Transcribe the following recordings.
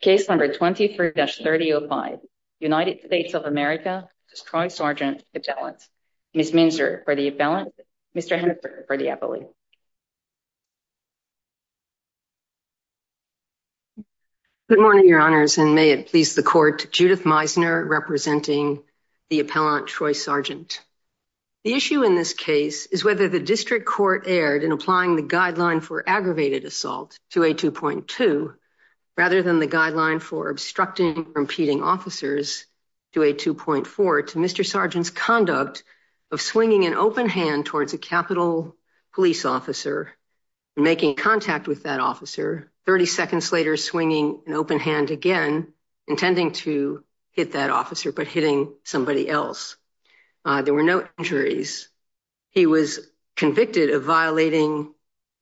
Case number 23-3005, United States of America v. Troy Sargent Appellant. Ms. Minzer for the appellant, Mr. Hennifer for the appellate. Good morning, Your Honors, and may it please the Court, Judith Meisner representing the appellant, Troy Sargent. The issue in this case is whether the District Court erred in applying the guideline for aggravated assault to A2.2 rather than the guideline for obstructing or impeding officers to A2.4 to Mr. Sargent's conduct of swinging an open hand towards a Capitol Police officer and making contact with that officer, 30 seconds later swinging an open hand again, intending to hit that officer but hitting somebody else. There were no injuries. He was convicted of violating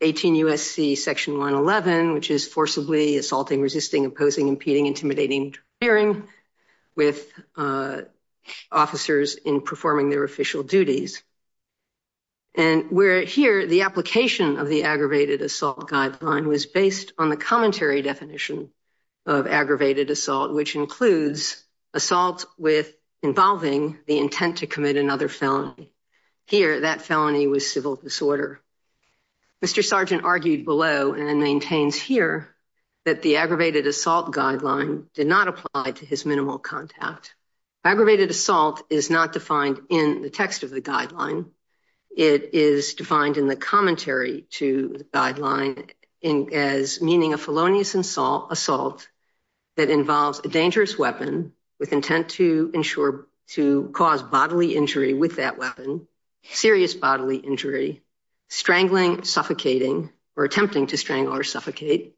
18 U.S.C. Section 111, which is forcibly assaulting, resisting, imposing, impeding, intimidating, interfering with officers in performing their official duties. And where here the application of the aggravated assault guideline was based on the commentary definition of aggravated assault, which includes assault with involving the intent to commit another felony. Here that felony was civil disorder. Mr. Sargent argued below and maintains here that the aggravated assault guideline did not apply to his minimal contact. Aggravated assault is not defined in the text of the guideline. It is defined in the commentary to the guideline as meaning a felonious assault that involves a dangerous weapon with intent to cause bodily injury with that weapon, serious bodily injury, strangling, suffocating, or attempting to strangle or suffocate,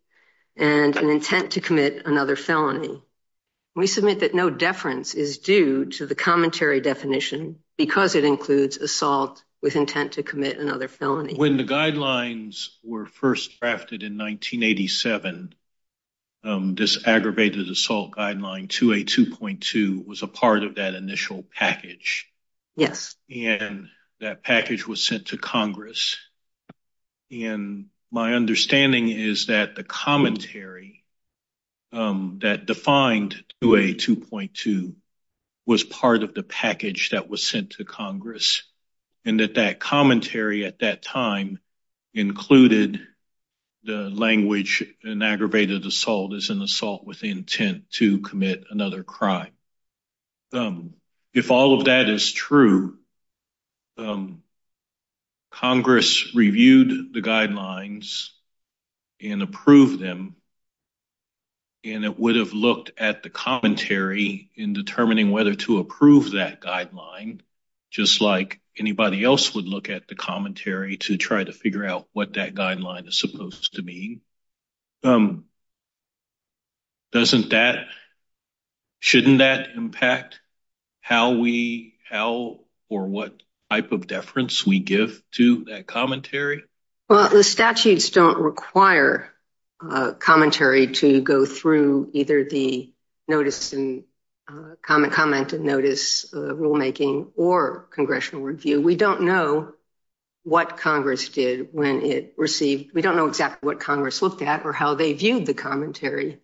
and an intent to commit another felony. We submit that no deference is due to the commentary definition because it includes assault with intent to commit another felony. When the guidelines were first drafted in 1987, this aggravated assault guideline 282.2 was a part of that initial package. Yes. And that package was sent to Congress. And my understanding is that the commentary that defined 282.2 was part of the package that was sent to Congress and that that commentary at that time included the language an aggravated assault is an assault with intent to commit another crime. If all of that is true, Congress reviewed the guidelines and approved them, and it would have looked at the commentary in determining whether to approve that guideline, just like anybody else would look at the commentary to try to figure out what that guideline is supposed to mean. Doesn't that – shouldn't that impact how we – how or what type of deference we give to that commentary? Well, the statutes don't require commentary to go through either the notice and comment and notice rulemaking or congressional review. We don't know what Congress did when it received – we don't know exactly what Congress looked at or how they viewed the commentary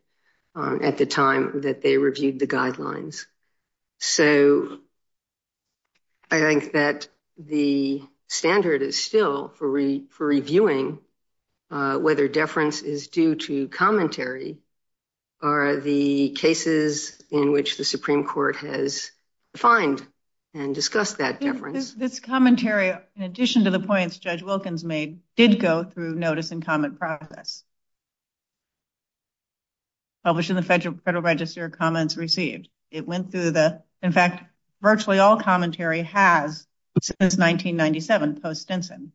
at the time that they reviewed the guidelines. So I think that the standard is still for reviewing whether deference is due to commentary or the cases in which the Supreme Court has defined and discussed that deference. This commentary, in addition to the points Judge Wilkins made, did go through notice and comment process, published in the Federal Register of Comments Received. It went through the – in fact, virtually all commentary has since 1997, post-Stinson.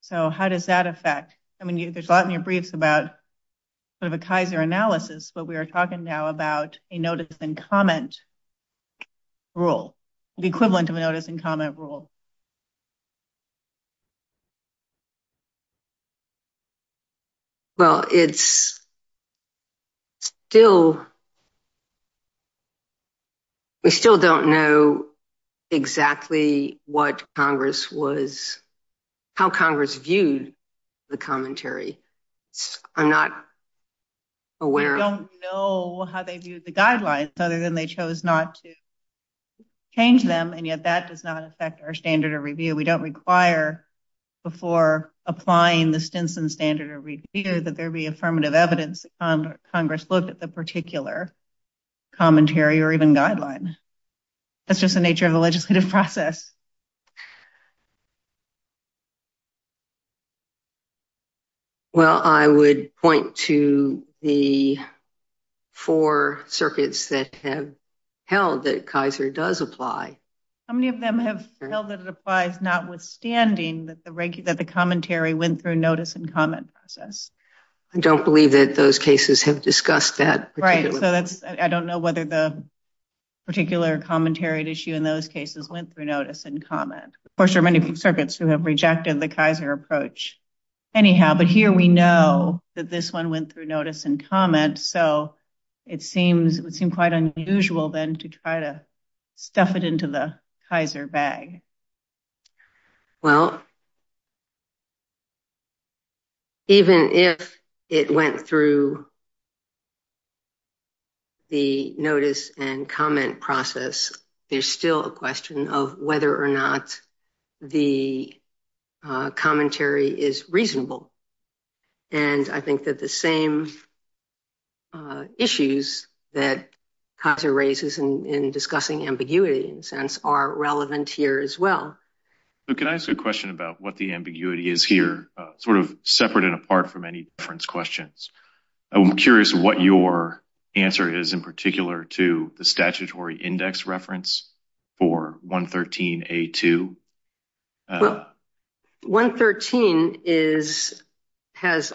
So how does that affect – I mean, there's a lot in your briefs about sort of a Kaiser analysis, but we are talking now about a notice and comment rule, the equivalent of a notice and comment rule. Well, it's still – we still don't know exactly what Congress was – how Congress viewed the commentary. I'm not aware of – other than they chose not to change them, and yet that does not affect our standard of review. We don't require before applying the Stinson standard of review that there be affirmative evidence that Congress looked at the particular commentary or even guideline. That's just the nature of the legislative process. Well, I would point to the four circuits that have held that Kaiser does apply. How many of them have held that it applies, notwithstanding that the commentary went through notice and comment process? I don't believe that those cases have discussed that. Right. So that's – I don't know whether the particular commentary at issue in those cases went through notice. Of course, there are many circuits who have rejected the Kaiser approach. Anyhow, but here we know that this one went through notice and comment, so it would seem quite unusual then to try to stuff it into the Kaiser bag. Well, even if it went through the notice and comment process, there's still a question of whether or not the commentary is reasonable. And I think that the same issues that Kaiser raises in discussing ambiguity, in a sense, are relevant here as well. Can I ask a question about what the ambiguity is here, sort of separate and apart from any difference questions? I'm curious what your answer is in particular to the statutory index reference for 113A2. Well, 113 has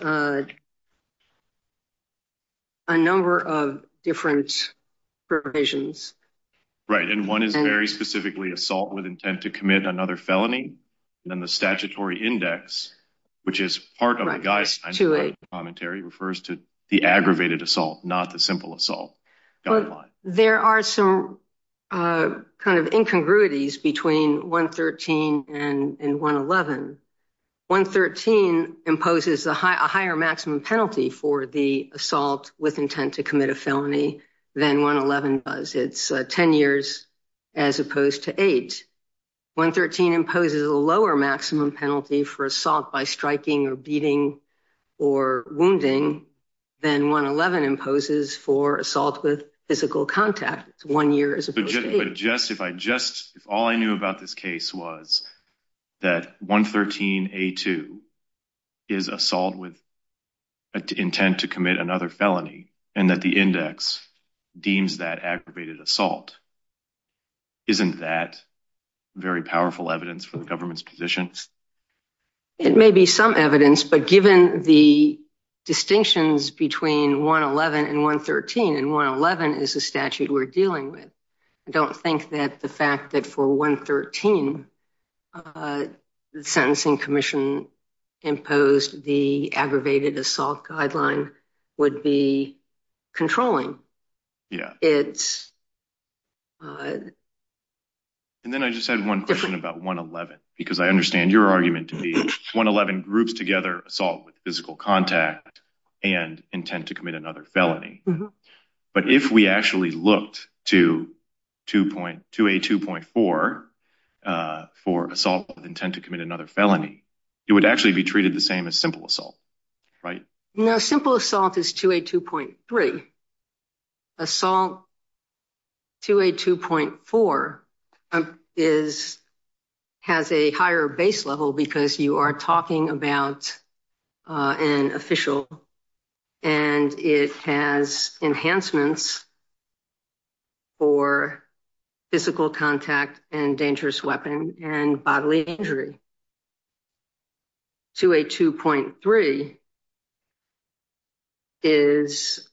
a number of different provisions. Right. And one is very specifically assault with intent to commit another felony. Then the statutory index, which is part of the guise commentary, refers to the aggravated assault, not the simple assault guideline. There are some kind of incongruities between 113 and 111. 113 imposes a higher maximum penalty for the assault with intent to commit a felony than 111 does. It's 10 years as opposed to eight. 113 imposes a lower maximum penalty for assault by striking or beating or wounding than 111 imposes for assault with physical contact. It's one year as opposed to eight. All I knew about this case was that 113A2 is assault with intent to commit another felony and that the index deems that aggravated assault. Isn't that very powerful evidence for the government's position? It may be some evidence, but given the distinctions between 111 and 113, and 111 is a statute we're dealing with, I don't think that the fact that for 113 the sentencing commission imposed the aggravated assault guideline would be controlling. Yeah. And then I just had one question about 111, because I understand your argument to be 111 groups together assault with physical contact and intent to commit another felony. But if we actually looked to 282.4 for assault with intent to commit another felony, it would actually be treated the same as simple assault, right? No, simple assault is 282.3. Assault 282.4 has a higher base level because you are talking about an official and it has enhancements for physical contact and dangerous weapon and bodily injury. 282.3 is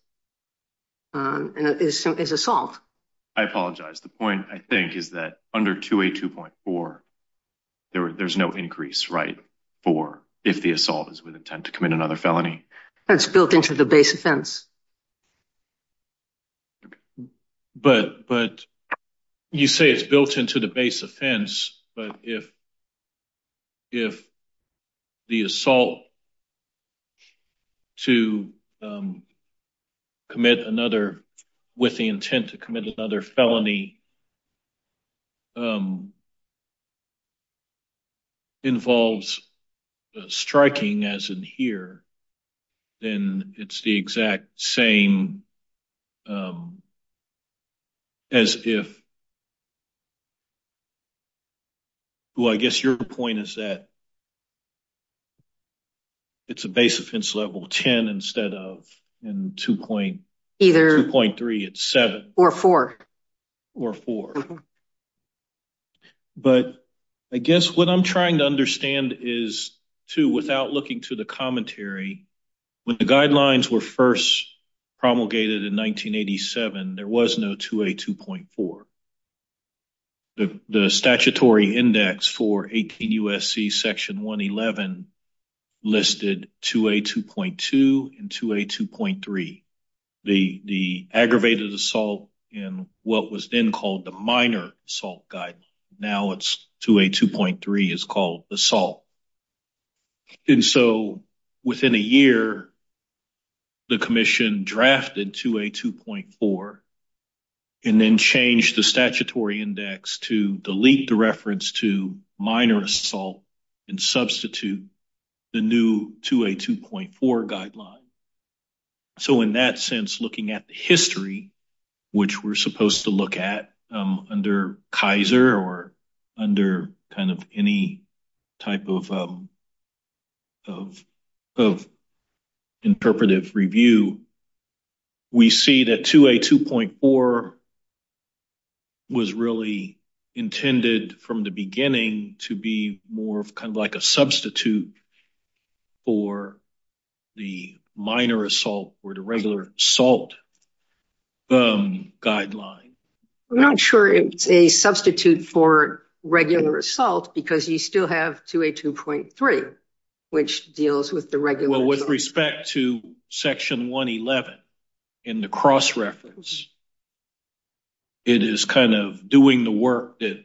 assault. I apologize. The point I think is that under 282.4, there's no increase, right? For if the assault is with intent to commit another felony. That's built into the base offense. But you say it's built into the base offense, but if the assault with the intent to commit another felony involves striking as in here, then it's the exact same as if, well, I guess your point is that it's a base offense level 10 instead of in 2.3, it's 7. Or 4. Or 4. But I guess what I'm trying to understand is, too, without looking to the commentary, when the guidelines were first promulgated in 1987, there was no 282.4. The statutory index for 18 USC section 111 listed 282.2 and 282.3. The aggravated assault in what was then called the minor assault guide. Now it's 282.3 is called assault. And so within a year, the commission drafted 282.4 and then changed the statutory index to delete the reference to minor assault and substitute the new 282.4 guideline. So in that sense, looking at the history, which we're supposed to look at under Kaiser or under kind of any type of of interpretive review, we see that 282.4 was really intended from the beginning to be more of kind of like a substitute for the minor assault or the regular assault guideline. I'm not sure if it's a substitute for regular assault because you still have 282.3, which deals with the regular. Well, with respect to section 111 in the cross reference, it is kind of doing the work that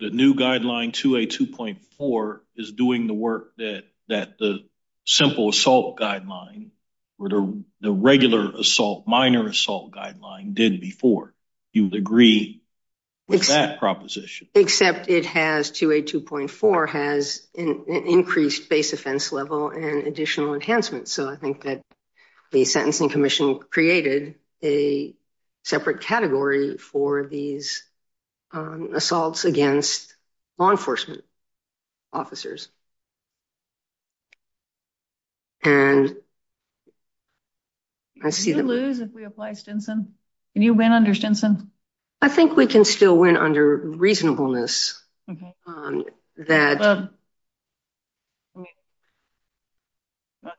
the new guideline 282.4 is doing the work that that the simple assault guideline or the regular assault minor assault guideline did before you would agree with that proposition. Except it has 282.4 has an increased base offense level and additional enhancements. So I think that the sentencing commission created a separate category for these assaults against law enforcement officers. And. I see that we lose if we apply Stinson. Can you win under Stinson? I think we can still win under reasonableness. That.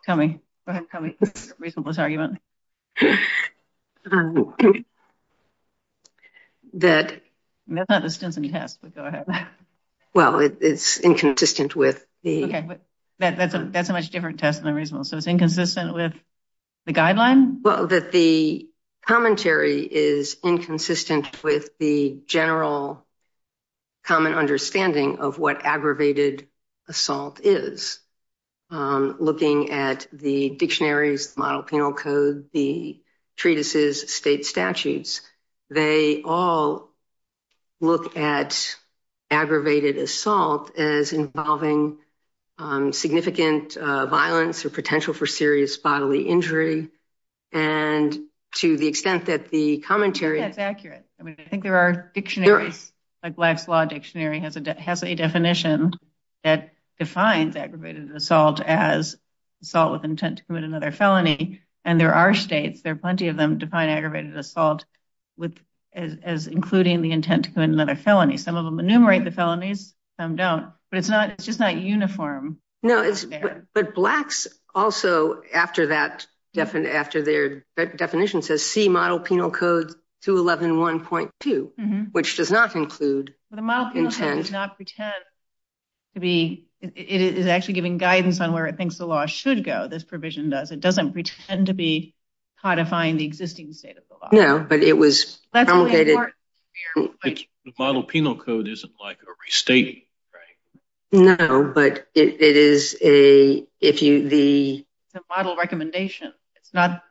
Tell me. That that's not the Stinson test, but go ahead. Well, it's inconsistent with the. That's a that's a much different test than a reasonable. So it's inconsistent with the guideline. Well, that the commentary is inconsistent with the general. Common understanding of what aggravated assault is looking at the dictionaries, model, penal code, the treatises, state statutes. They all look at aggravated assault as involving significant violence or serious bodily injury. And to the extent that the commentary is accurate. I think there are dictionaries like Black's Law Dictionary has a has a definition that defines aggravated assault as assault with intent to commit another felony. And there are states there are plenty of them define aggravated assault with as including the intent to commit another felony. Some of them enumerate the felonies. Some don't, but it's not. It's just not uniform. No, but Black's also after that, after their definition says see model, penal code to 11.1.2, which does not include. The model does not pretend to be. It is actually giving guidance on where it thinks the law should go. This provision does. It doesn't pretend to be codifying the existing state of the law. No, but it was. Model penal code isn't like a restating. No, but it is a if you the model recommendation, it's not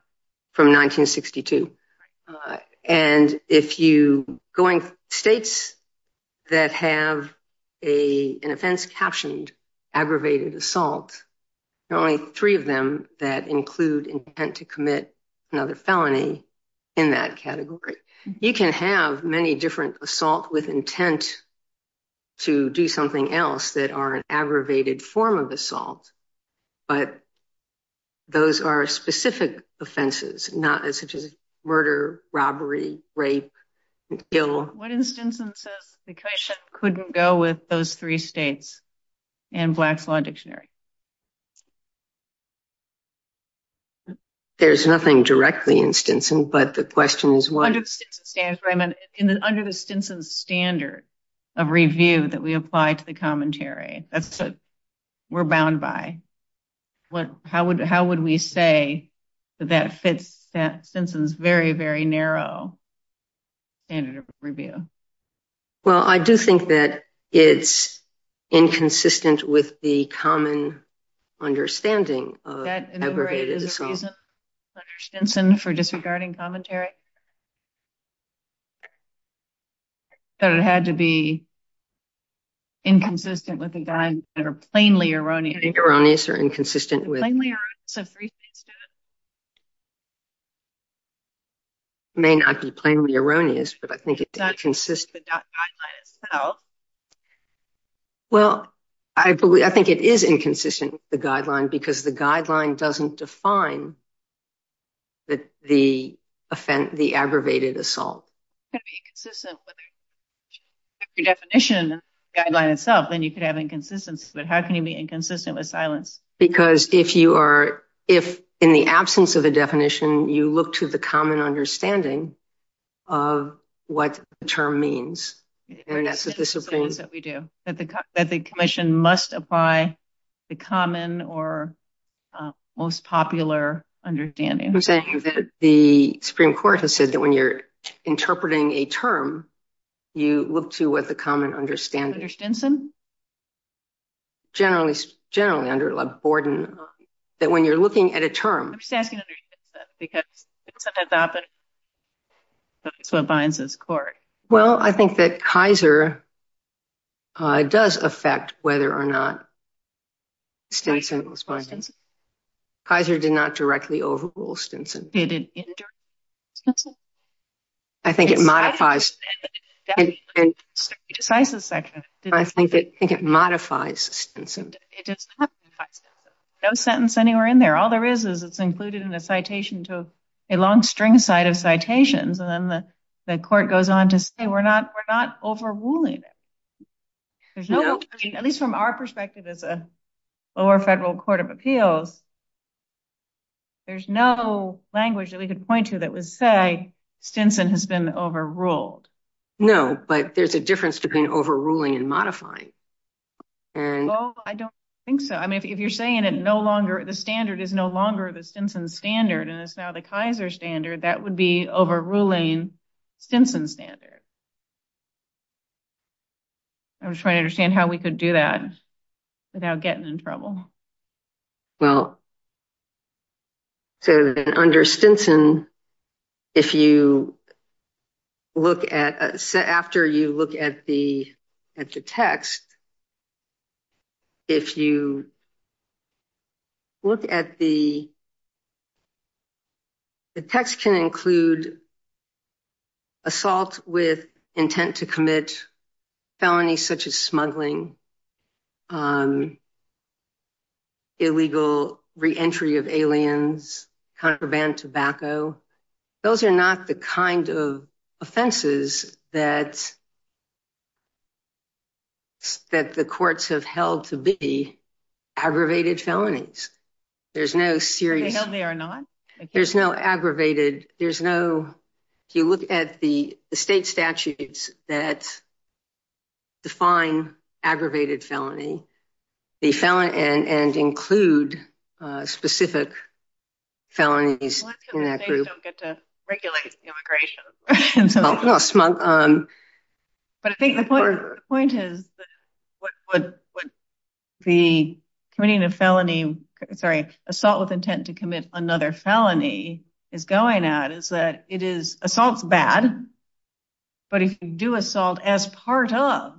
from 1962. And if you going states that have a, an offense captioned aggravated assault, there are only three of them that include intent to commit another felony in that category. You can have many different assault with intent to do something else that are an aggravated form of assault. But those are specific offenses, not as such as murder, robbery, rape, what instance and says the question couldn't go with those three states and Black's law dictionary. There's nothing directly instance. But the question is what under the standard of review that we apply to the commentary. That's what we're bound by. What, how would, how would we say that that fits that since it was very, very narrow standard of review? Well, I do think that it's inconsistent with the common understanding of aggravated assault for disregarding commentary that it had to be inconsistent with the guys that are plainly erroneous or inconsistent with may not be plainly erroneous, but I think it's consistent. Well, I believe, I think it is inconsistent with the guideline because the guideline doesn't define that the offense, the aggravated assault definition guideline itself, then you could have inconsistency, but how can you be inconsistent with silence? Because if you are, if in the absence of a definition, you look to the common understanding of what the term means, that we do that, the commission must apply the common or most popular understanding. The Supreme court has said that when you're interpreting a term, you look to what the common understanding, generally, generally under like Borden, that when you're looking at a term, I'm just asking because that's what binds us. Corey. Well, I think that Kaiser does affect whether or not Kaiser did not directly overrule Stinson. I think it modifies. I think it, I think it modifies. No sentence anywhere in there. All there is is it's included in a citation to a long string side of citations. And then the court goes on to say, we're not, we're not overruling it. At least from our perspective as a lower federal court of appeals, there's no language that we could point to that would say Stinson has been overruled. No, but there's a difference between overruling and modifying. And I don't think so. I mean, if you're saying it no longer, the standard is no longer the Stinson standard and it's now the Kaiser standard that would be overruling Stinson standard. I'm just trying to understand how we could do that without getting in trouble. Well, so under Stinson, if you look at, after you look at the, at the text, if you look at the, the text can include assault with intent to commit felonies, such as smuggling illegal re-entry of aliens, contraband tobacco. Those are not the kind of offenses that, that the courts have held to be aggravated felonies. There's no serious, there's no aggravated, there's no, if you look at the state statutes that define aggravated felony, the felon and include specific felonies in that group. Well that's because they don't get to regulate immigration. But I think the point is, the committing a felony, sorry, assault with intent to commit another felony is going at is that it is assaults bad, but if you do assault as part of,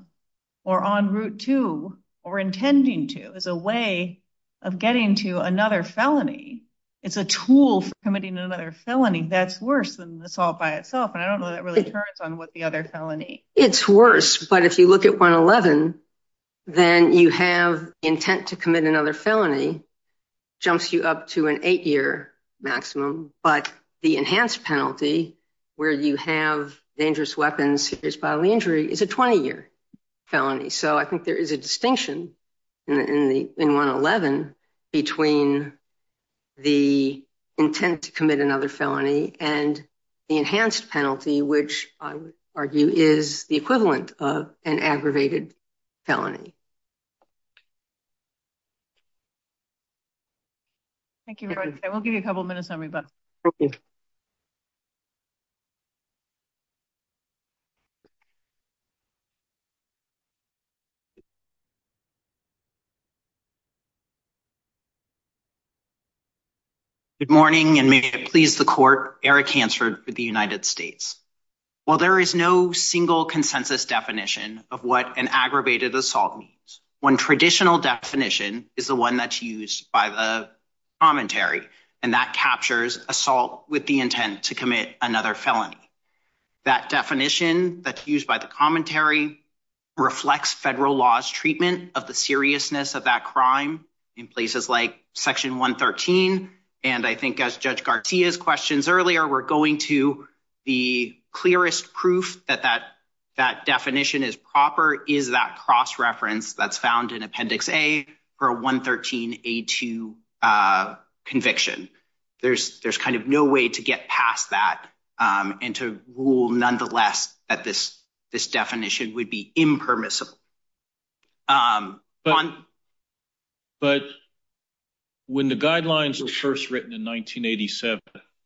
or on route to or intending to as a way of getting to another felony, it's a tool for committing another felony. That's worse than assault by itself. And I don't know that really turns on what the other felony. It's worse. But if you look at one 11, then you have intent to commit another felony jumps you up to an eight year maximum. But the enhanced penalty where you have dangerous weapons is bodily injury is a 20 year felony. So I think there is a distinction in the, in the, in one 11 between the intent to commit another felony and the enhanced penalty, which I would argue is the equivalent of an aggravated felony. Thank you. I will give you a couple of minutes on rebuts. Good morning. And may it please the court, Eric Hansford for the United States. Well, there is no single consensus definition of what an aggravated assault means when traditional definition is the one that's used by the commentary and that captures assault with the intent to commit another felony. That definition that's used by the commentary reflects federal laws, treatment of the seriousness of that crime in places like section one 13. And I think as judge Garcia's questions earlier, we're going to the clearest proof that, that that definition is proper. Is that cross reference that's found in appendix a or a one 13, a two conviction there's, there's kind of no way to get past that and to rule nonetheless that this, this definition would be impermissible. But when the guidelines were first written in 1987,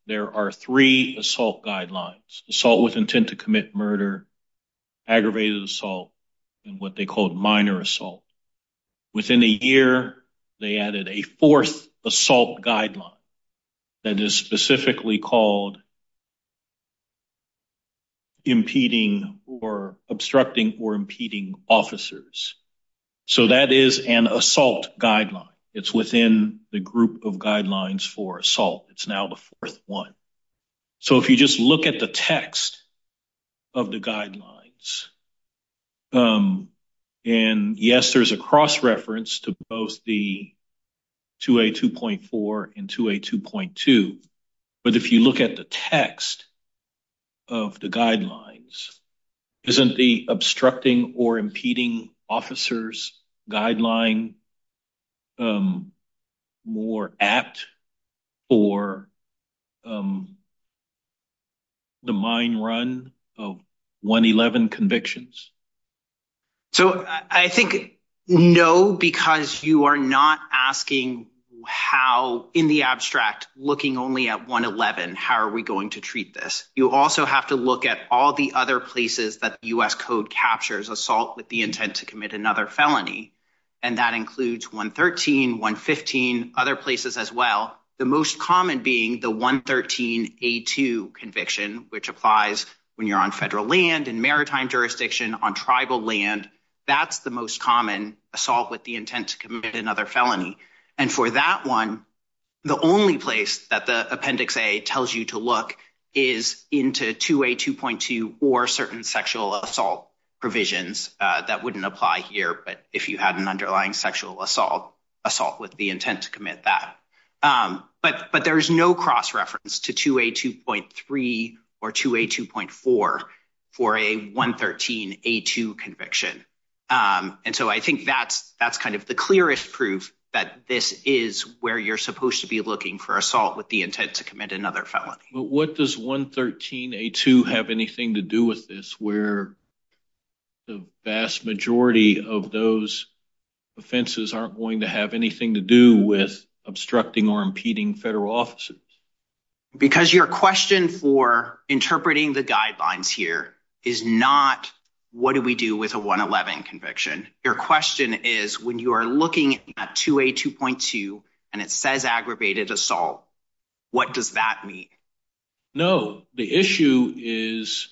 there are three assault guidelines, assault with intent to commit murder, aggravated assault, and what they called minor assault. Within a year, they added a fourth assault guideline that is specifically called impeding or obstructing or impeding officers. So that is an assault guideline. It's within the group of guidelines for assault. It's now the fourth one. So if you just look at the text of the guidelines and yes, there's a cross reference to both the two a 2.4 and two a 2.2. But if you look at the text of the guidelines, isn't the obstructing or impeding officers guideline more apt or the mine run of one 11 convictions? So I think no, because you are not asking how in the abstract looking only at one 11, how are we going to treat this? You also have to look at all the other places that us code captures assault with the intent to commit another felony. And that includes one 13 one 15 other places as well. The most common being the one 13 a two conviction, which applies when you're on federal land and maritime jurisdiction on tribal land. That's the most common assault with the intent to commit another felony. And for that one, the only place that the appendix a tells you to look is into two a 2.2 or And there are certain sexual assault provisions that wouldn't apply here. But if you had an underlying sexual assault, assault with the intent to commit that but, but there is no cross reference to two a 2.3 or two a 2.4 for a one 13, a two conviction. And so I think that's, that's kind of the clearest proof that this is where you're supposed to be looking for assault with the intent to commit another felony. But what does one 13, a two have anything to do with this? Where the vast majority of those offenses aren't going to have anything to do with obstructing or impeding federal officers. Because your question for interpreting the guidelines here is not, what do we do with a one 11 conviction? Your question is when you are looking at two a 2.2 and it says aggravated assault, what does that mean? No, the issue is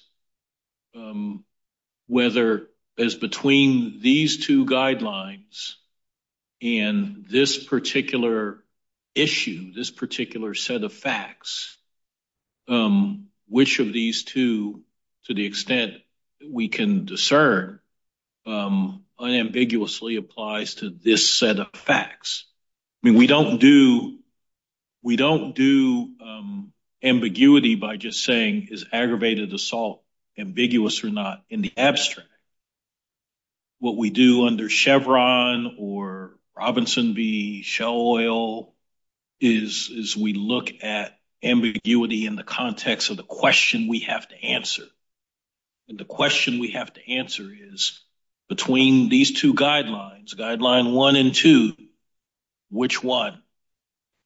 whether as between these two guidelines and this particular issue, this particular set of facts which of these two, to the extent we can discern unambiguously applies to this set of facts. I mean, we don't do, we don't do ambiguity by just saying is aggravated assault ambiguous or not in the abstract. What we do under Chevron or Robinson V Shell Oil is, is we look at ambiguity in the context of the question we have to answer. And the question we have to answer is between these two guidelines, guideline one and two, which one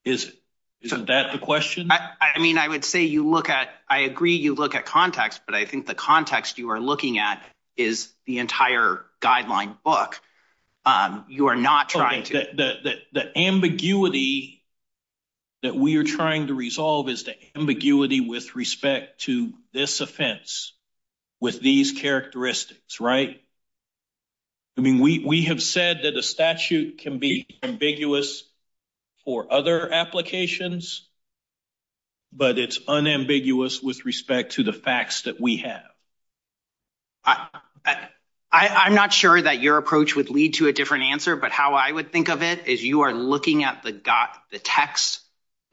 is it? Isn't that the question? I mean, I would say you look at, I agree you look at context, but I think the context you are looking at is the entire guideline book. You are not trying to, the ambiguity that we are trying to resolve is the ambiguity with respect to this offense with these characteristics, right? I mean, we have said that a statute can be ambiguous for other applications, but it's unambiguous with respect to the facts that we have. I'm not sure that your approach would lead to a different answer, but how I would think of it is you are looking at the got the text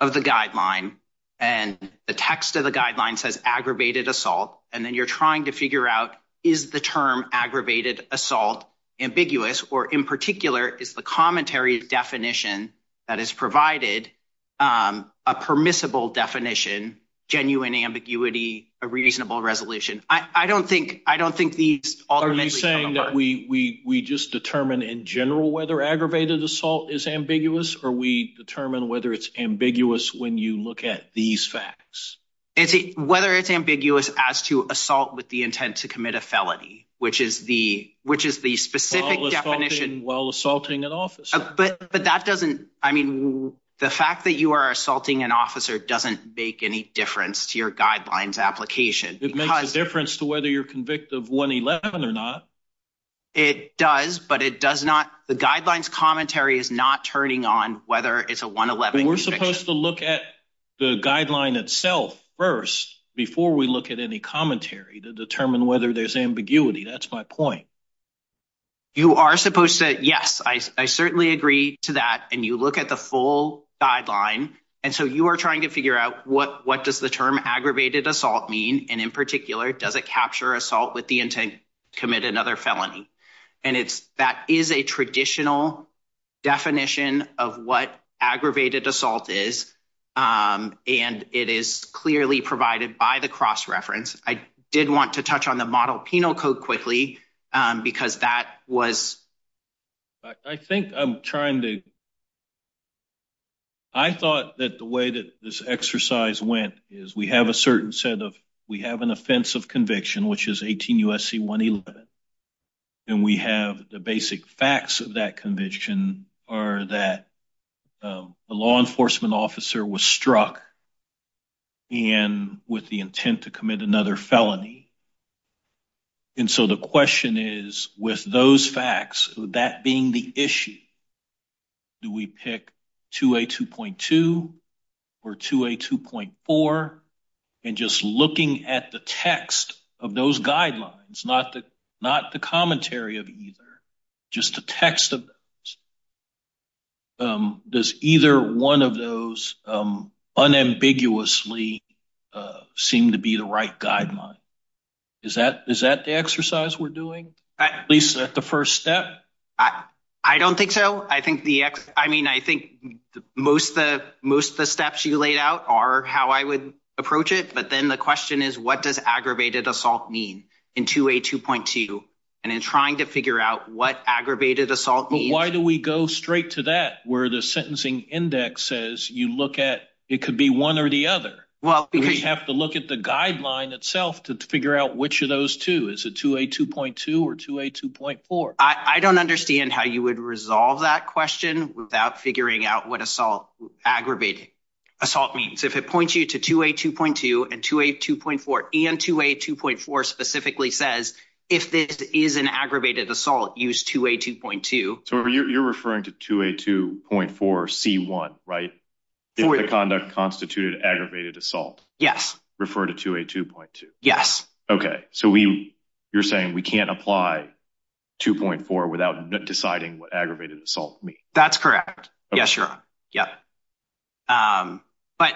of the guideline and the text of the guideline says aggravated assault. And then you're trying to figure out is the term aggravated assault ambiguous or in particular, is the commentary definition that is provided a permissible definition, genuine ambiguity, a reasonable resolution. I don't think, I don't think these are saying that we, we just determine in general whether aggravated assault is ambiguous or we determine whether it's ambiguous. When you look at these facts, it's whether it's ambiguous as to assault with the intent to commit a felony, which is the, which is the specific definition while assaulting an officer. But, but that doesn't, I mean, the fact that you are assaulting an officer doesn't make any difference to your guidelines application. It makes a difference to whether you're convicted of one 11 or not. It does, but it does not. The guidelines commentary is not turning on whether it's a one 11. We're supposed to look at the guideline itself first before we look at any commentary to determine whether there's ambiguity. That's my point. You are supposed to. Yes, I certainly agree to that. And you look at the full guideline. And so you are trying to figure out what, what does the term aggravated assault mean? And in particular, does it capture assault with the intent to commit another felony? And it's, that is a traditional definition of what aggravated assault is. And it is clearly provided by the cross reference. I did want to touch on the model penal code quickly because that was, I think I'm trying to, I thought that the way that this exercise went is we have a certain set of, we have an offensive conviction, which is 18 USC one 11. And we have the basic facts of that conviction are that a law enforcement officer was struck and with the intent to commit another felony. And so the question is with those facts, that being the issue, do we pick two a 2.2 or two a 2.4 and just looking at the text of the those guidelines, not the, not the commentary of either, just the text of those, does either one of those unambiguously seem to be the right guideline? Is that, is that the exercise we're doing at least at the first step? I don't think so. I think the X, I mean, I think most of the, most of the steps you laid out are how I would approach it. But then the question is what does aggravated assault mean in two a 2.2 and in trying to figure out what aggravated assault, why do we go straight to that where the sentencing index says you look at, it could be one or the other. Well, because you have to look at the guideline itself to figure out which of those two is a two a 2.2 or two a 2.4. I don't understand how you would resolve that question without figuring out what assault aggravating assault means. If it points you to two a 2.2 and two a 2.4 and two a 2.4 specifically says if this is an aggravated assault, use two a 2.2. So you're referring to two a 2.4 C one, right? The conduct constituted aggravated assault. Yes. Refer to two a 2.2. Yes. Okay. So we, you're saying we can't apply 2.4 without deciding what aggravated assault me. That's correct. Yes, you're. Yep. But,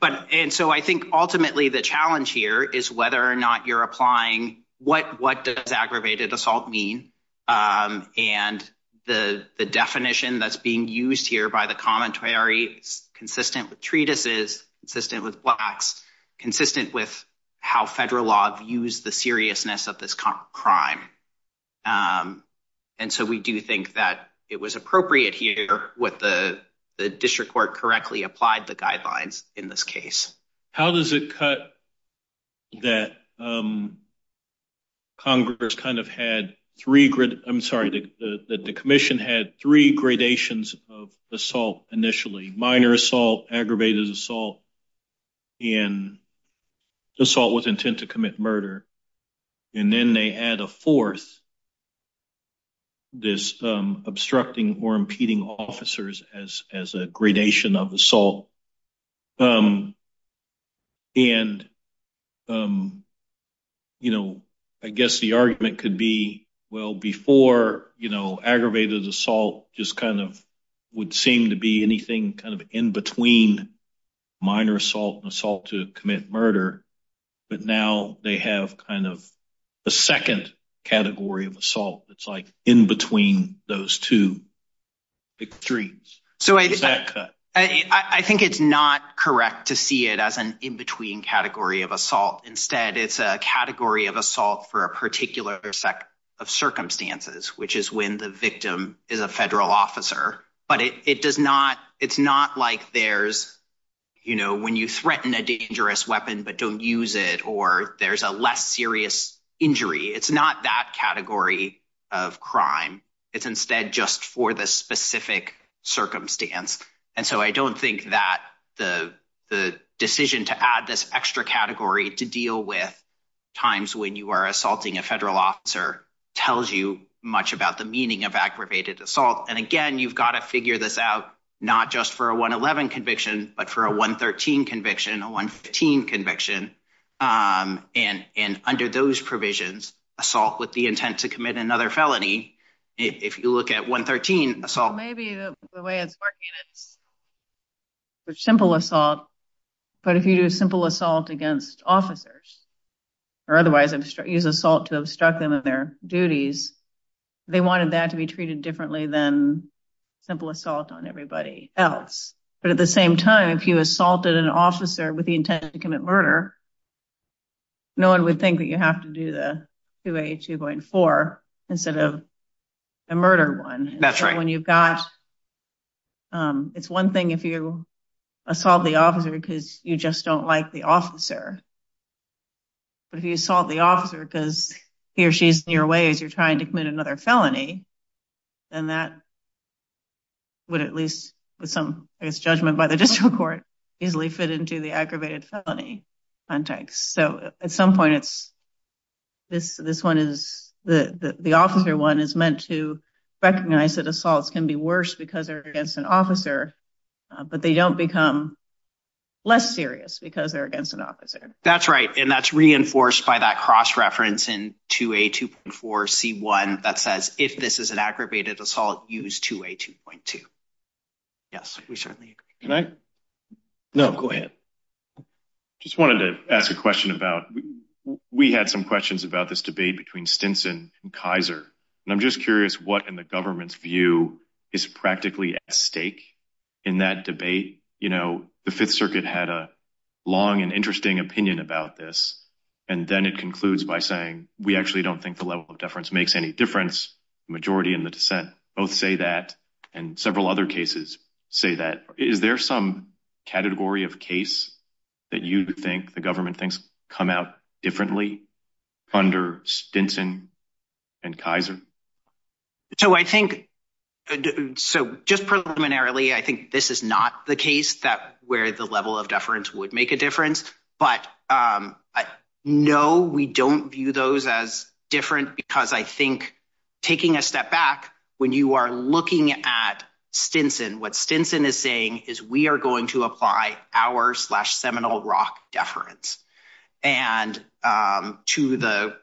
but, and so I think ultimately the challenge here is whether or not you're applying what, what does aggravated assault mean? And the, the definition that's being used here by the commentary consistent with treatises, consistent with blacks, consistent with how federal law views the seriousness of this crime. And so we do think that it was appropriate here with the, the district court correctly applied the guidelines in this case. How does it cut that? Congress kind of had three grid. I'm sorry. The commission had three gradations of assault initially, minor assault, aggravated assault and assault with intent to commit murder. And then they add a fourth, this, this obstructing or impeding officers as, as a gradation of assault. And, you know, I guess the argument could be, well, before, you know, aggravated assault just kind of would seem to be anything kind of in between minor assault and assault to commit murder. But now they have kind of a second category of assault. It's like in between those two extremes. I think it's not correct to see it as an in-between category of assault. Instead, it's a category of assault for a particular set of circumstances, which is when the victim is a federal officer, but it does not. It's not like there's, you know, when you threaten a dangerous weapon, but don't use it, or there's a less serious injury. It's not that category of crime. It's instead just for the specific circumstance. And so I don't think that the, the decision to add this extra category to deal with times when you are assaulting a federal officer tells you much about the meaning of aggravated assault. And again, you've got to figure this out, not just for a one 11 conviction, but for a one 13 conviction, a one 15 conviction and, and under those provisions, assault with the intent to commit another felony. If you look at one 13 assault, Maybe the way it's working, it's a simple assault, but if you do a simple assault against officers or otherwise use assault to obstruct them in their duties, they wanted that to be treated differently than simple assault on everybody else. But at the same time, if you assaulted an officer with the intent to commit murder, no one would think that you have to do the QA 2.4 instead of a murder one. That's right. When you've got, it's one thing if you assault the officer because you just don't like the officer, but if you assault the officer because he or she's in your way, as you're trying to commit another felony, then that would at least with some, I guess, judgment by the district court easily fit into the aggravated felony context. So at some point it's this, this one is the, the officer one is meant to recognize that assaults can be worse because they're against an officer, but they don't become less serious because they're against an officer. That's right. And that's reinforced by that cross-reference and to a 2.4 C one that says if this is an aggravated assault used to a 2.2, yes, we certainly agree. Can I, no, go ahead. Just wanted to ask a question about, we had some questions about this debate between Stinson and Kaiser, and I'm just curious what, and the government's view is practically at stake in that debate. You know, the fifth circuit had a long and interesting opinion about this. And then it concludes by saying, we actually don't think the level of deference makes any difference. Majority in the dissent both say that, and several other cases say that. Is there some category of case that you think the government thinks come out differently under Stinson and Kaiser? So I think, so just preliminarily, I think this is not the case that where the level of deference would make a difference. I think it goes as different because I think taking a step back, when you are looking at Stinson, what Stinson is saying is we are going to apply our slash seminal rock deference and to the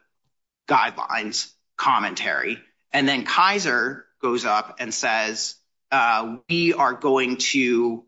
guidelines commentary. And then Kaiser goes up and says, we are going to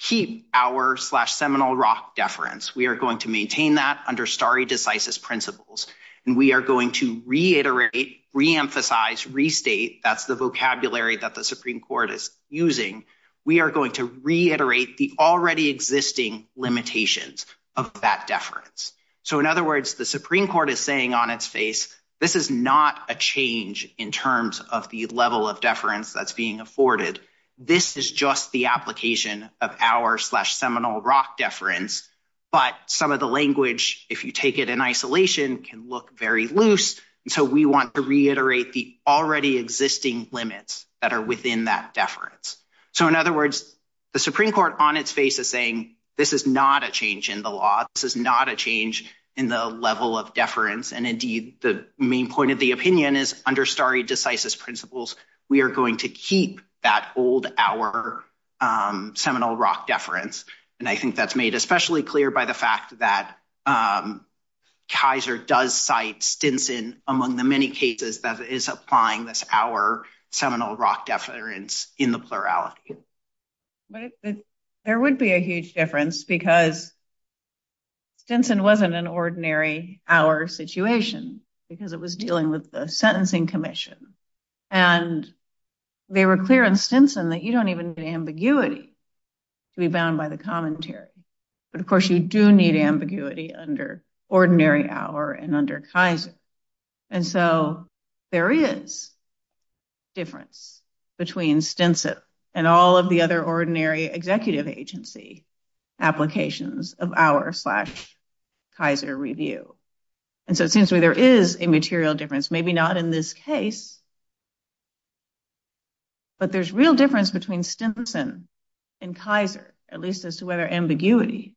keep our slash seminal rock deference. We are going to maintain that under starry decisive principles. And we are going to reiterate reemphasize restate. That's the vocabulary that the Supreme court is using. We are going to reiterate the already existing limitations of that deference. So in other words, the Supreme court is saying on its face, this is not a change in terms of the level of deference that's being afforded. This is just the application of our slash seminal rock deference, but some of the language, if you take it in isolation can look very loose. And so we want to reiterate the already existing limits that are within that deference. So in other words, the Supreme court on its face is saying, this is not a change in the law. This is not a change in the level of deference. And indeed the main point of the opinion is under starry decisive principles. We are going to keep that old our seminal rock deference. And I think that's made especially clear by the fact that Kaiser does cite Stinson among the many cases that is applying this our seminal rock deference in the plurality. There would be a huge difference because Stinson wasn't an ordinary our situation because it was dealing with the sentencing commission and they were clear on Stinson that you don't even need ambiguity to be bound by the commentary, but of course you do need ambiguity under ordinary hour and under Kaiser. And so there is difference between Stinson and all of the other ordinary executive agency applications of our slash Kaiser review. And so it seems to me there is a material difference, maybe not in this case, but there's real difference between Stinson and Kaiser, at least as to whether ambiguity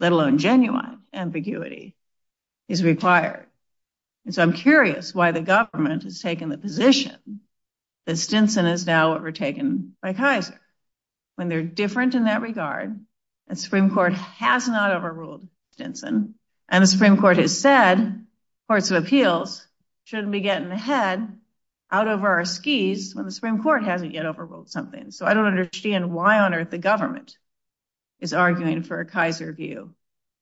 let alone genuine ambiguity is required. And so I'm curious why the government has taken the position that Stinson is now overtaken by Kaiser when they're different in that regard. And Supreme court has not overruled Stinson and the Supreme court has said courts of appeals shouldn't be getting ahead out of our skis when the Supreme court hasn't yet overruled something. So I don't understand why on earth the government is arguing for a Kaiser view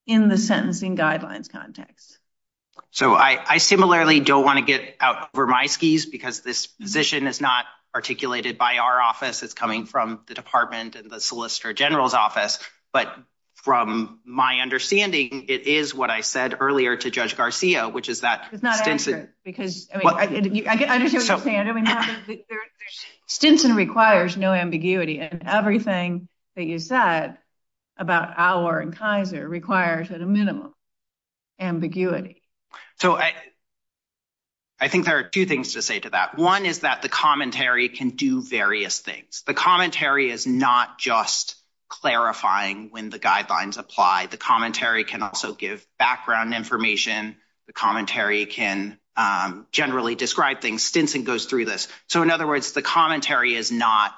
in the sentencing guidelines context. So I similarly don't want to get out over my skis because this position is not articulated by our office. It's coming from the department and the solicitor general's office. But from my understanding, it is what I said earlier to judge Garcia, which is that Stinson requires no ambiguity and everything that you said about our Kaiser requires at a minimum ambiguity. So I think there are two things to say to that. One is that the commentary can do various things. The commentary is not just clarifying when the guidelines apply. The commentary can also give background information. The commentary can generally describe things. Stinson goes through this. So in other words, the commentary is not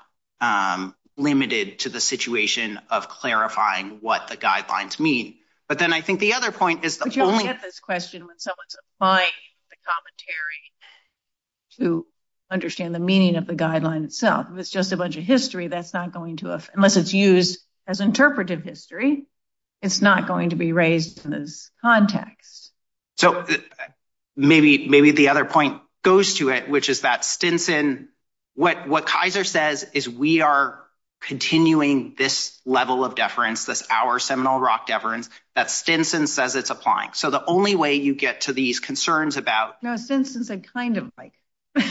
limited to the situation of clarifying what the guidelines mean. But then I think the other point is the only question when someone's applying the commentary to understand the meaning of the guideline itself, if it's just a bunch of history, that's not going to, unless it's used as interpretive history, it's not going to be raised in this context. So maybe, maybe the other point goes to it, which is that Stinson, what, what Kaiser says is we are continuing this level of deference, this our Seminole rock deference that Stinson says it's applying. So the only way you get to these concerns about. No, Stinson said kind of like,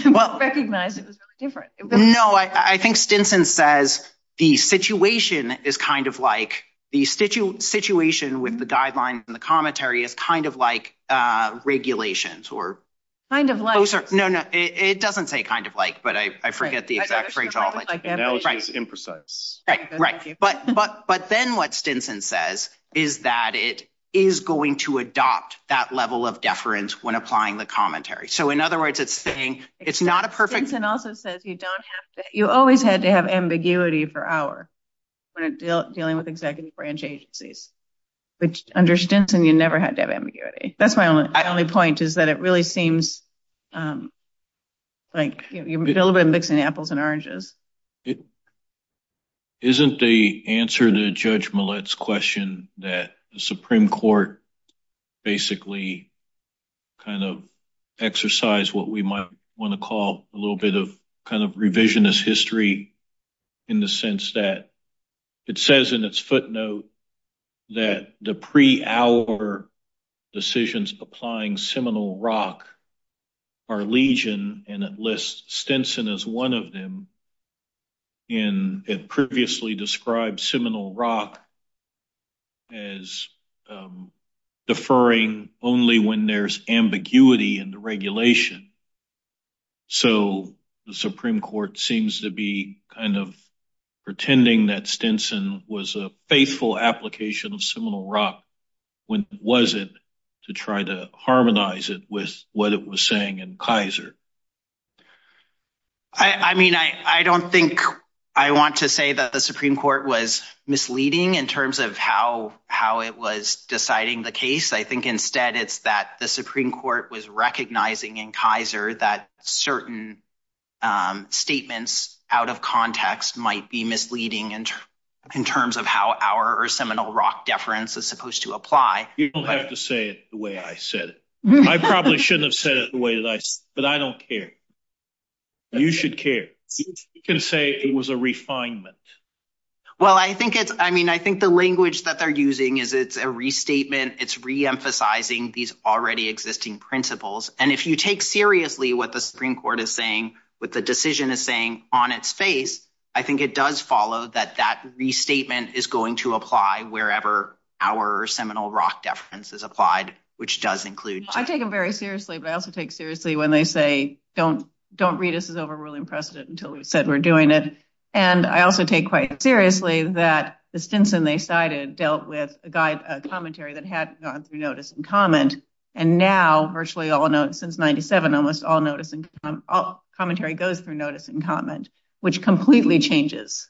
well, recognize it was different. No, I think Stinson says the situation is kind of like the situation with the guidelines and the commentary is kind of like regulations or. Kind of like, no, no, it doesn't say kind of like, but I, I forget the exact phrase. Right. Right. But, but, but then what Stinson says is that it is going to adopt that level of deference when applying the commentary. So in other words, it's saying it's not a perfect. Stinson also says you don't have to, you always had to have ambiguity for our dealing with executive branch agencies, which under Stinson, you never had to have ambiguity. That's my only, I only point is that it really seems like you're a little bit mixing apples and oranges. Isn't the answer to judge Millett's question that the Supreme court basically. I think it's interesting that we kind of exercise what we might want to call a little bit of kind of revisionist history. In the sense that. It says in its footnote. That the pre hour. Decisions applying Seminole rock. Our legion and at least Stinson is one of them. In it previously described Seminole rock. As deferring only when there's ambiguity in the regulation. So the Supreme court seems to be kind of. Pretending that Stinson was a faithful application of Seminole rock. When was it to try to harmonize it with what it was saying in Kaiser? I mean, I, I don't think. I want to say that the Supreme court was misleading in terms of how, how it was deciding the case. I think instead it's that the Supreme court was recognizing in Kaiser that certain. Statements out of context might be misleading. In terms of how our or Seminole rock deference is supposed to apply. You don't have to say it the way I said it. I probably shouldn't have said it the way that I, that I said it. But I don't care. You should care. You can say it was a refinement. Well, I think it's, I mean, I think the language that they're using is it's a restatement. It's reemphasizing these already existing principles. And if you take seriously, what the Supreme court is saying. With the decision is saying on its face. I think it does follow that that restatement is going to apply wherever. Our Seminole rock deference is applied, which does include. I take them very seriously, but I also take seriously when they say, don't, don't read us as overruling precedent until we've said we're doing it. And I also take quite seriously that the Stinson they cited dealt with a guide commentary that had gone through notice and comment. And now virtually all notes since 97, almost all noticing. Commentary goes through notice and comment, which completely changes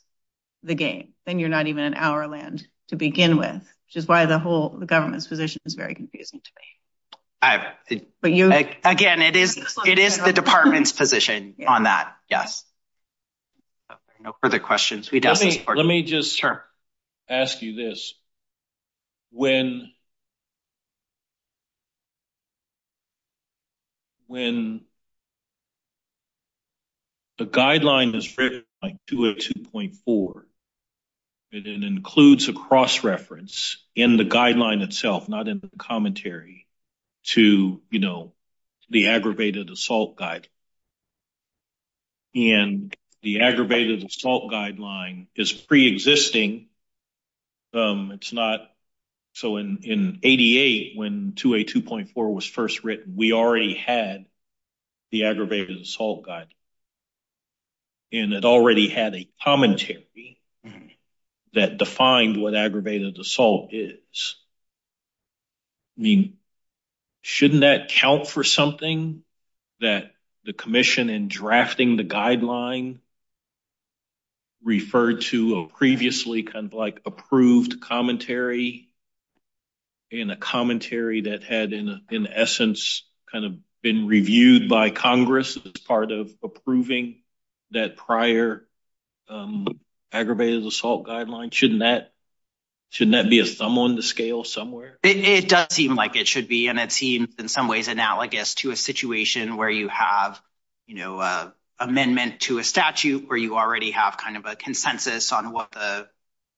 the game. And you're not even an hour land to begin with, which is why the whole, the government's position is very confusing to me. But you again, it is, it is the department's position on that. Yes. No further questions. Let me, let me just ask you this. When. When. The guideline is. To a 2.4. And it includes a cross-reference in the guideline itself, not in the commentary. To, you know, The aggravated assault guide. And the aggravated assault guideline is preexisting. It's not. So in, in 88, when to a 2.4 was first written, we already had. The aggravated assault guide. And it already had a commentary. That defined what aggravated assault is. I mean, shouldn't that count for something. That the commission in drafting the guideline. Referred to a previously kind of like approved commentary. In a commentary that had in essence, kind of been reviewed by Congress. Part of approving that prior. Aggravated assault guideline. Shouldn't that. Shouldn't that be a thumb on the scale somewhere? It does seem like it should be. And it seems in some ways analogous to a situation where you have. You know, a amendment to a statute where you already have kind of a consensus on what the.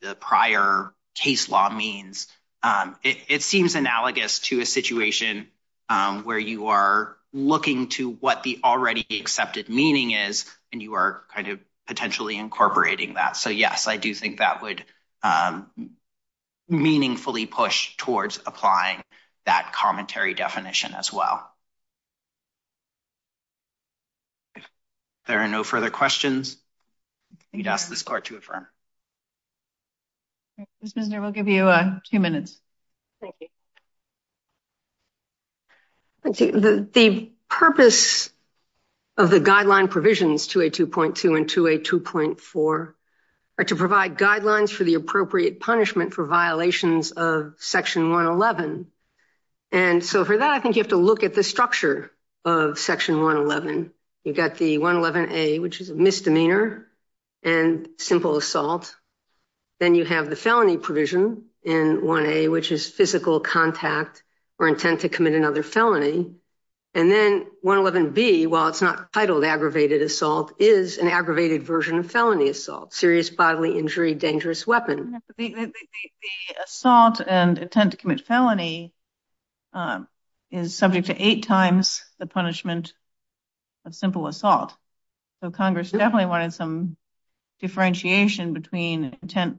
The prior case law means it seems analogous to a situation. Where you are looking to what the already accepted meaning is, and you are kind of potentially incorporating that. So, yes, I do think that would. Meaningfully push towards applying that commentary definition as well. There are no further questions. You'd ask this car to affirm. We'll give you a few minutes. Thank you. The purpose of the guideline provisions to a 2.2 and to a 2.4. Or to provide guidelines for the appropriate punishment for violations of section 111. And so for that, I think you have to look at the structure of section 111. You've got the 111 a, which is a misdemeanor and simple assault. Then you have the felony provision in one a, which is physical contact or intent to commit another felony. And then 111 B, while it's not titled, aggravated assault is an aggravated version of felony assault, serious bodily injury, dangerous weapon. Assault and attempt to commit felony. Is subject to eight times the punishment of simple assault. So, Congress definitely wanted some differentiation between intent.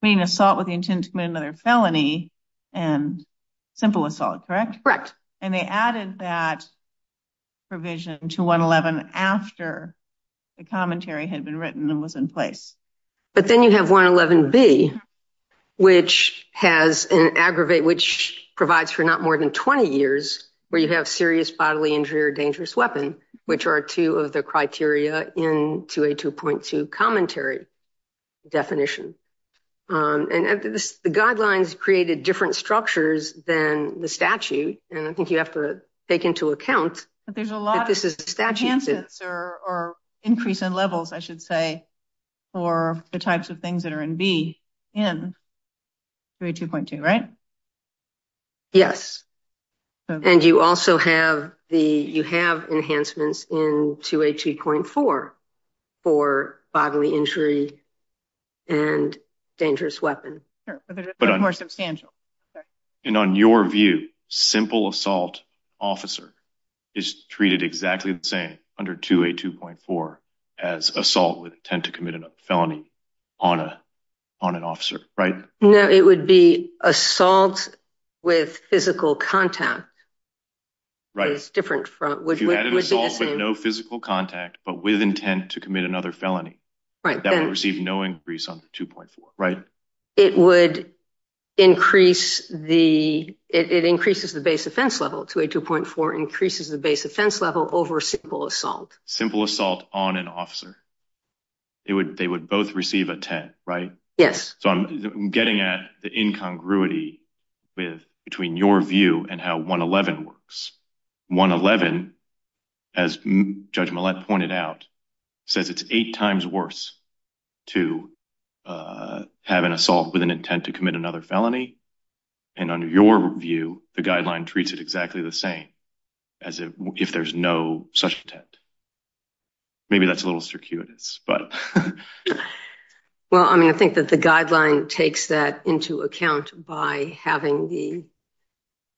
Assault with the intent to commit another felony and simple assault. Correct. Correct. And they added that provision to 111 after the commentary had been written and was in place. But then you have 111 B, which has an aggravate, which provides for not more than 20 years where you have serious bodily injury or dangerous weapon, which are two of the criteria in to a 2.2 commentary definition. And the guidelines created different structures than the statute. And I think you have to take into account that there's a lot. This is a statute or increase in levels, I should say, or the types of things that are in B and. 2.2, right? Yes. And you also have the you have enhancements in to a 2.4 for bodily injury and dangerous weapon. More substantial and on your view, simple assault officer is treated exactly the same under to a 2.4 as assault with intent to commit a felony on a on an officer. Right? No, it would be assault with physical contact. Right. It's different from no physical contact, but with intent to commit another felony, right? That will receive no increase on 2.4. Right. It would increase the it increases the base offense level to a 2.4 increases the base offense level over simple assault. Simple assault on an officer. It would they would both receive a 10. Right? Yes. So, I'm getting at the incongruity with between your view and how 111 works. 111, as judgment pointed out, says it's eight times worse to have an assault with an intent to commit another felony. And on your view, the guideline treats it exactly the same as if there's no such intent. Maybe that's a little circuitous, but well, I mean, I think that the guideline takes that into account by having the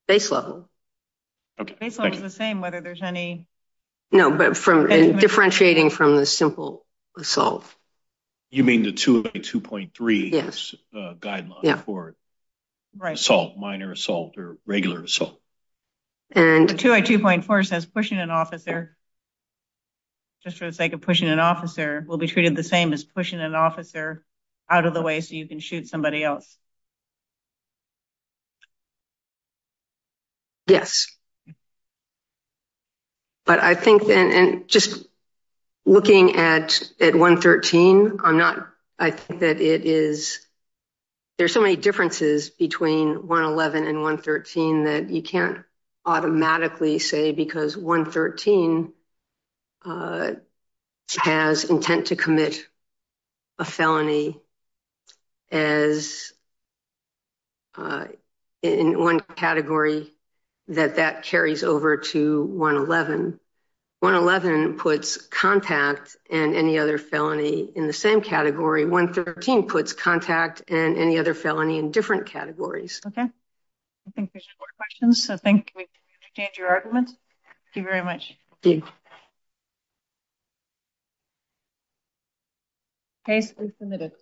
base level. It's the same whether there's any no, but from differentiating from the simple assault. You mean the 2.3 guideline for assault minor assault or regular assault and 2.4 says pushing an officer. Just for the sake of pushing an officer will be treated the same as pushing an officer out of the way so you can shoot somebody else. Yes, but I think and just looking at at 113, I'm not I think that it is. There's so many differences between 111 and 113 that you can't automatically say, because 113 has intent to commit a felony. As in one category that that carries over to 111, 111 puts contact and any other felony in the same category. 113 puts contact and any other felony in different categories. Okay, I think there's more questions. I think we change your argument. Thank you very much. Okay, submitted.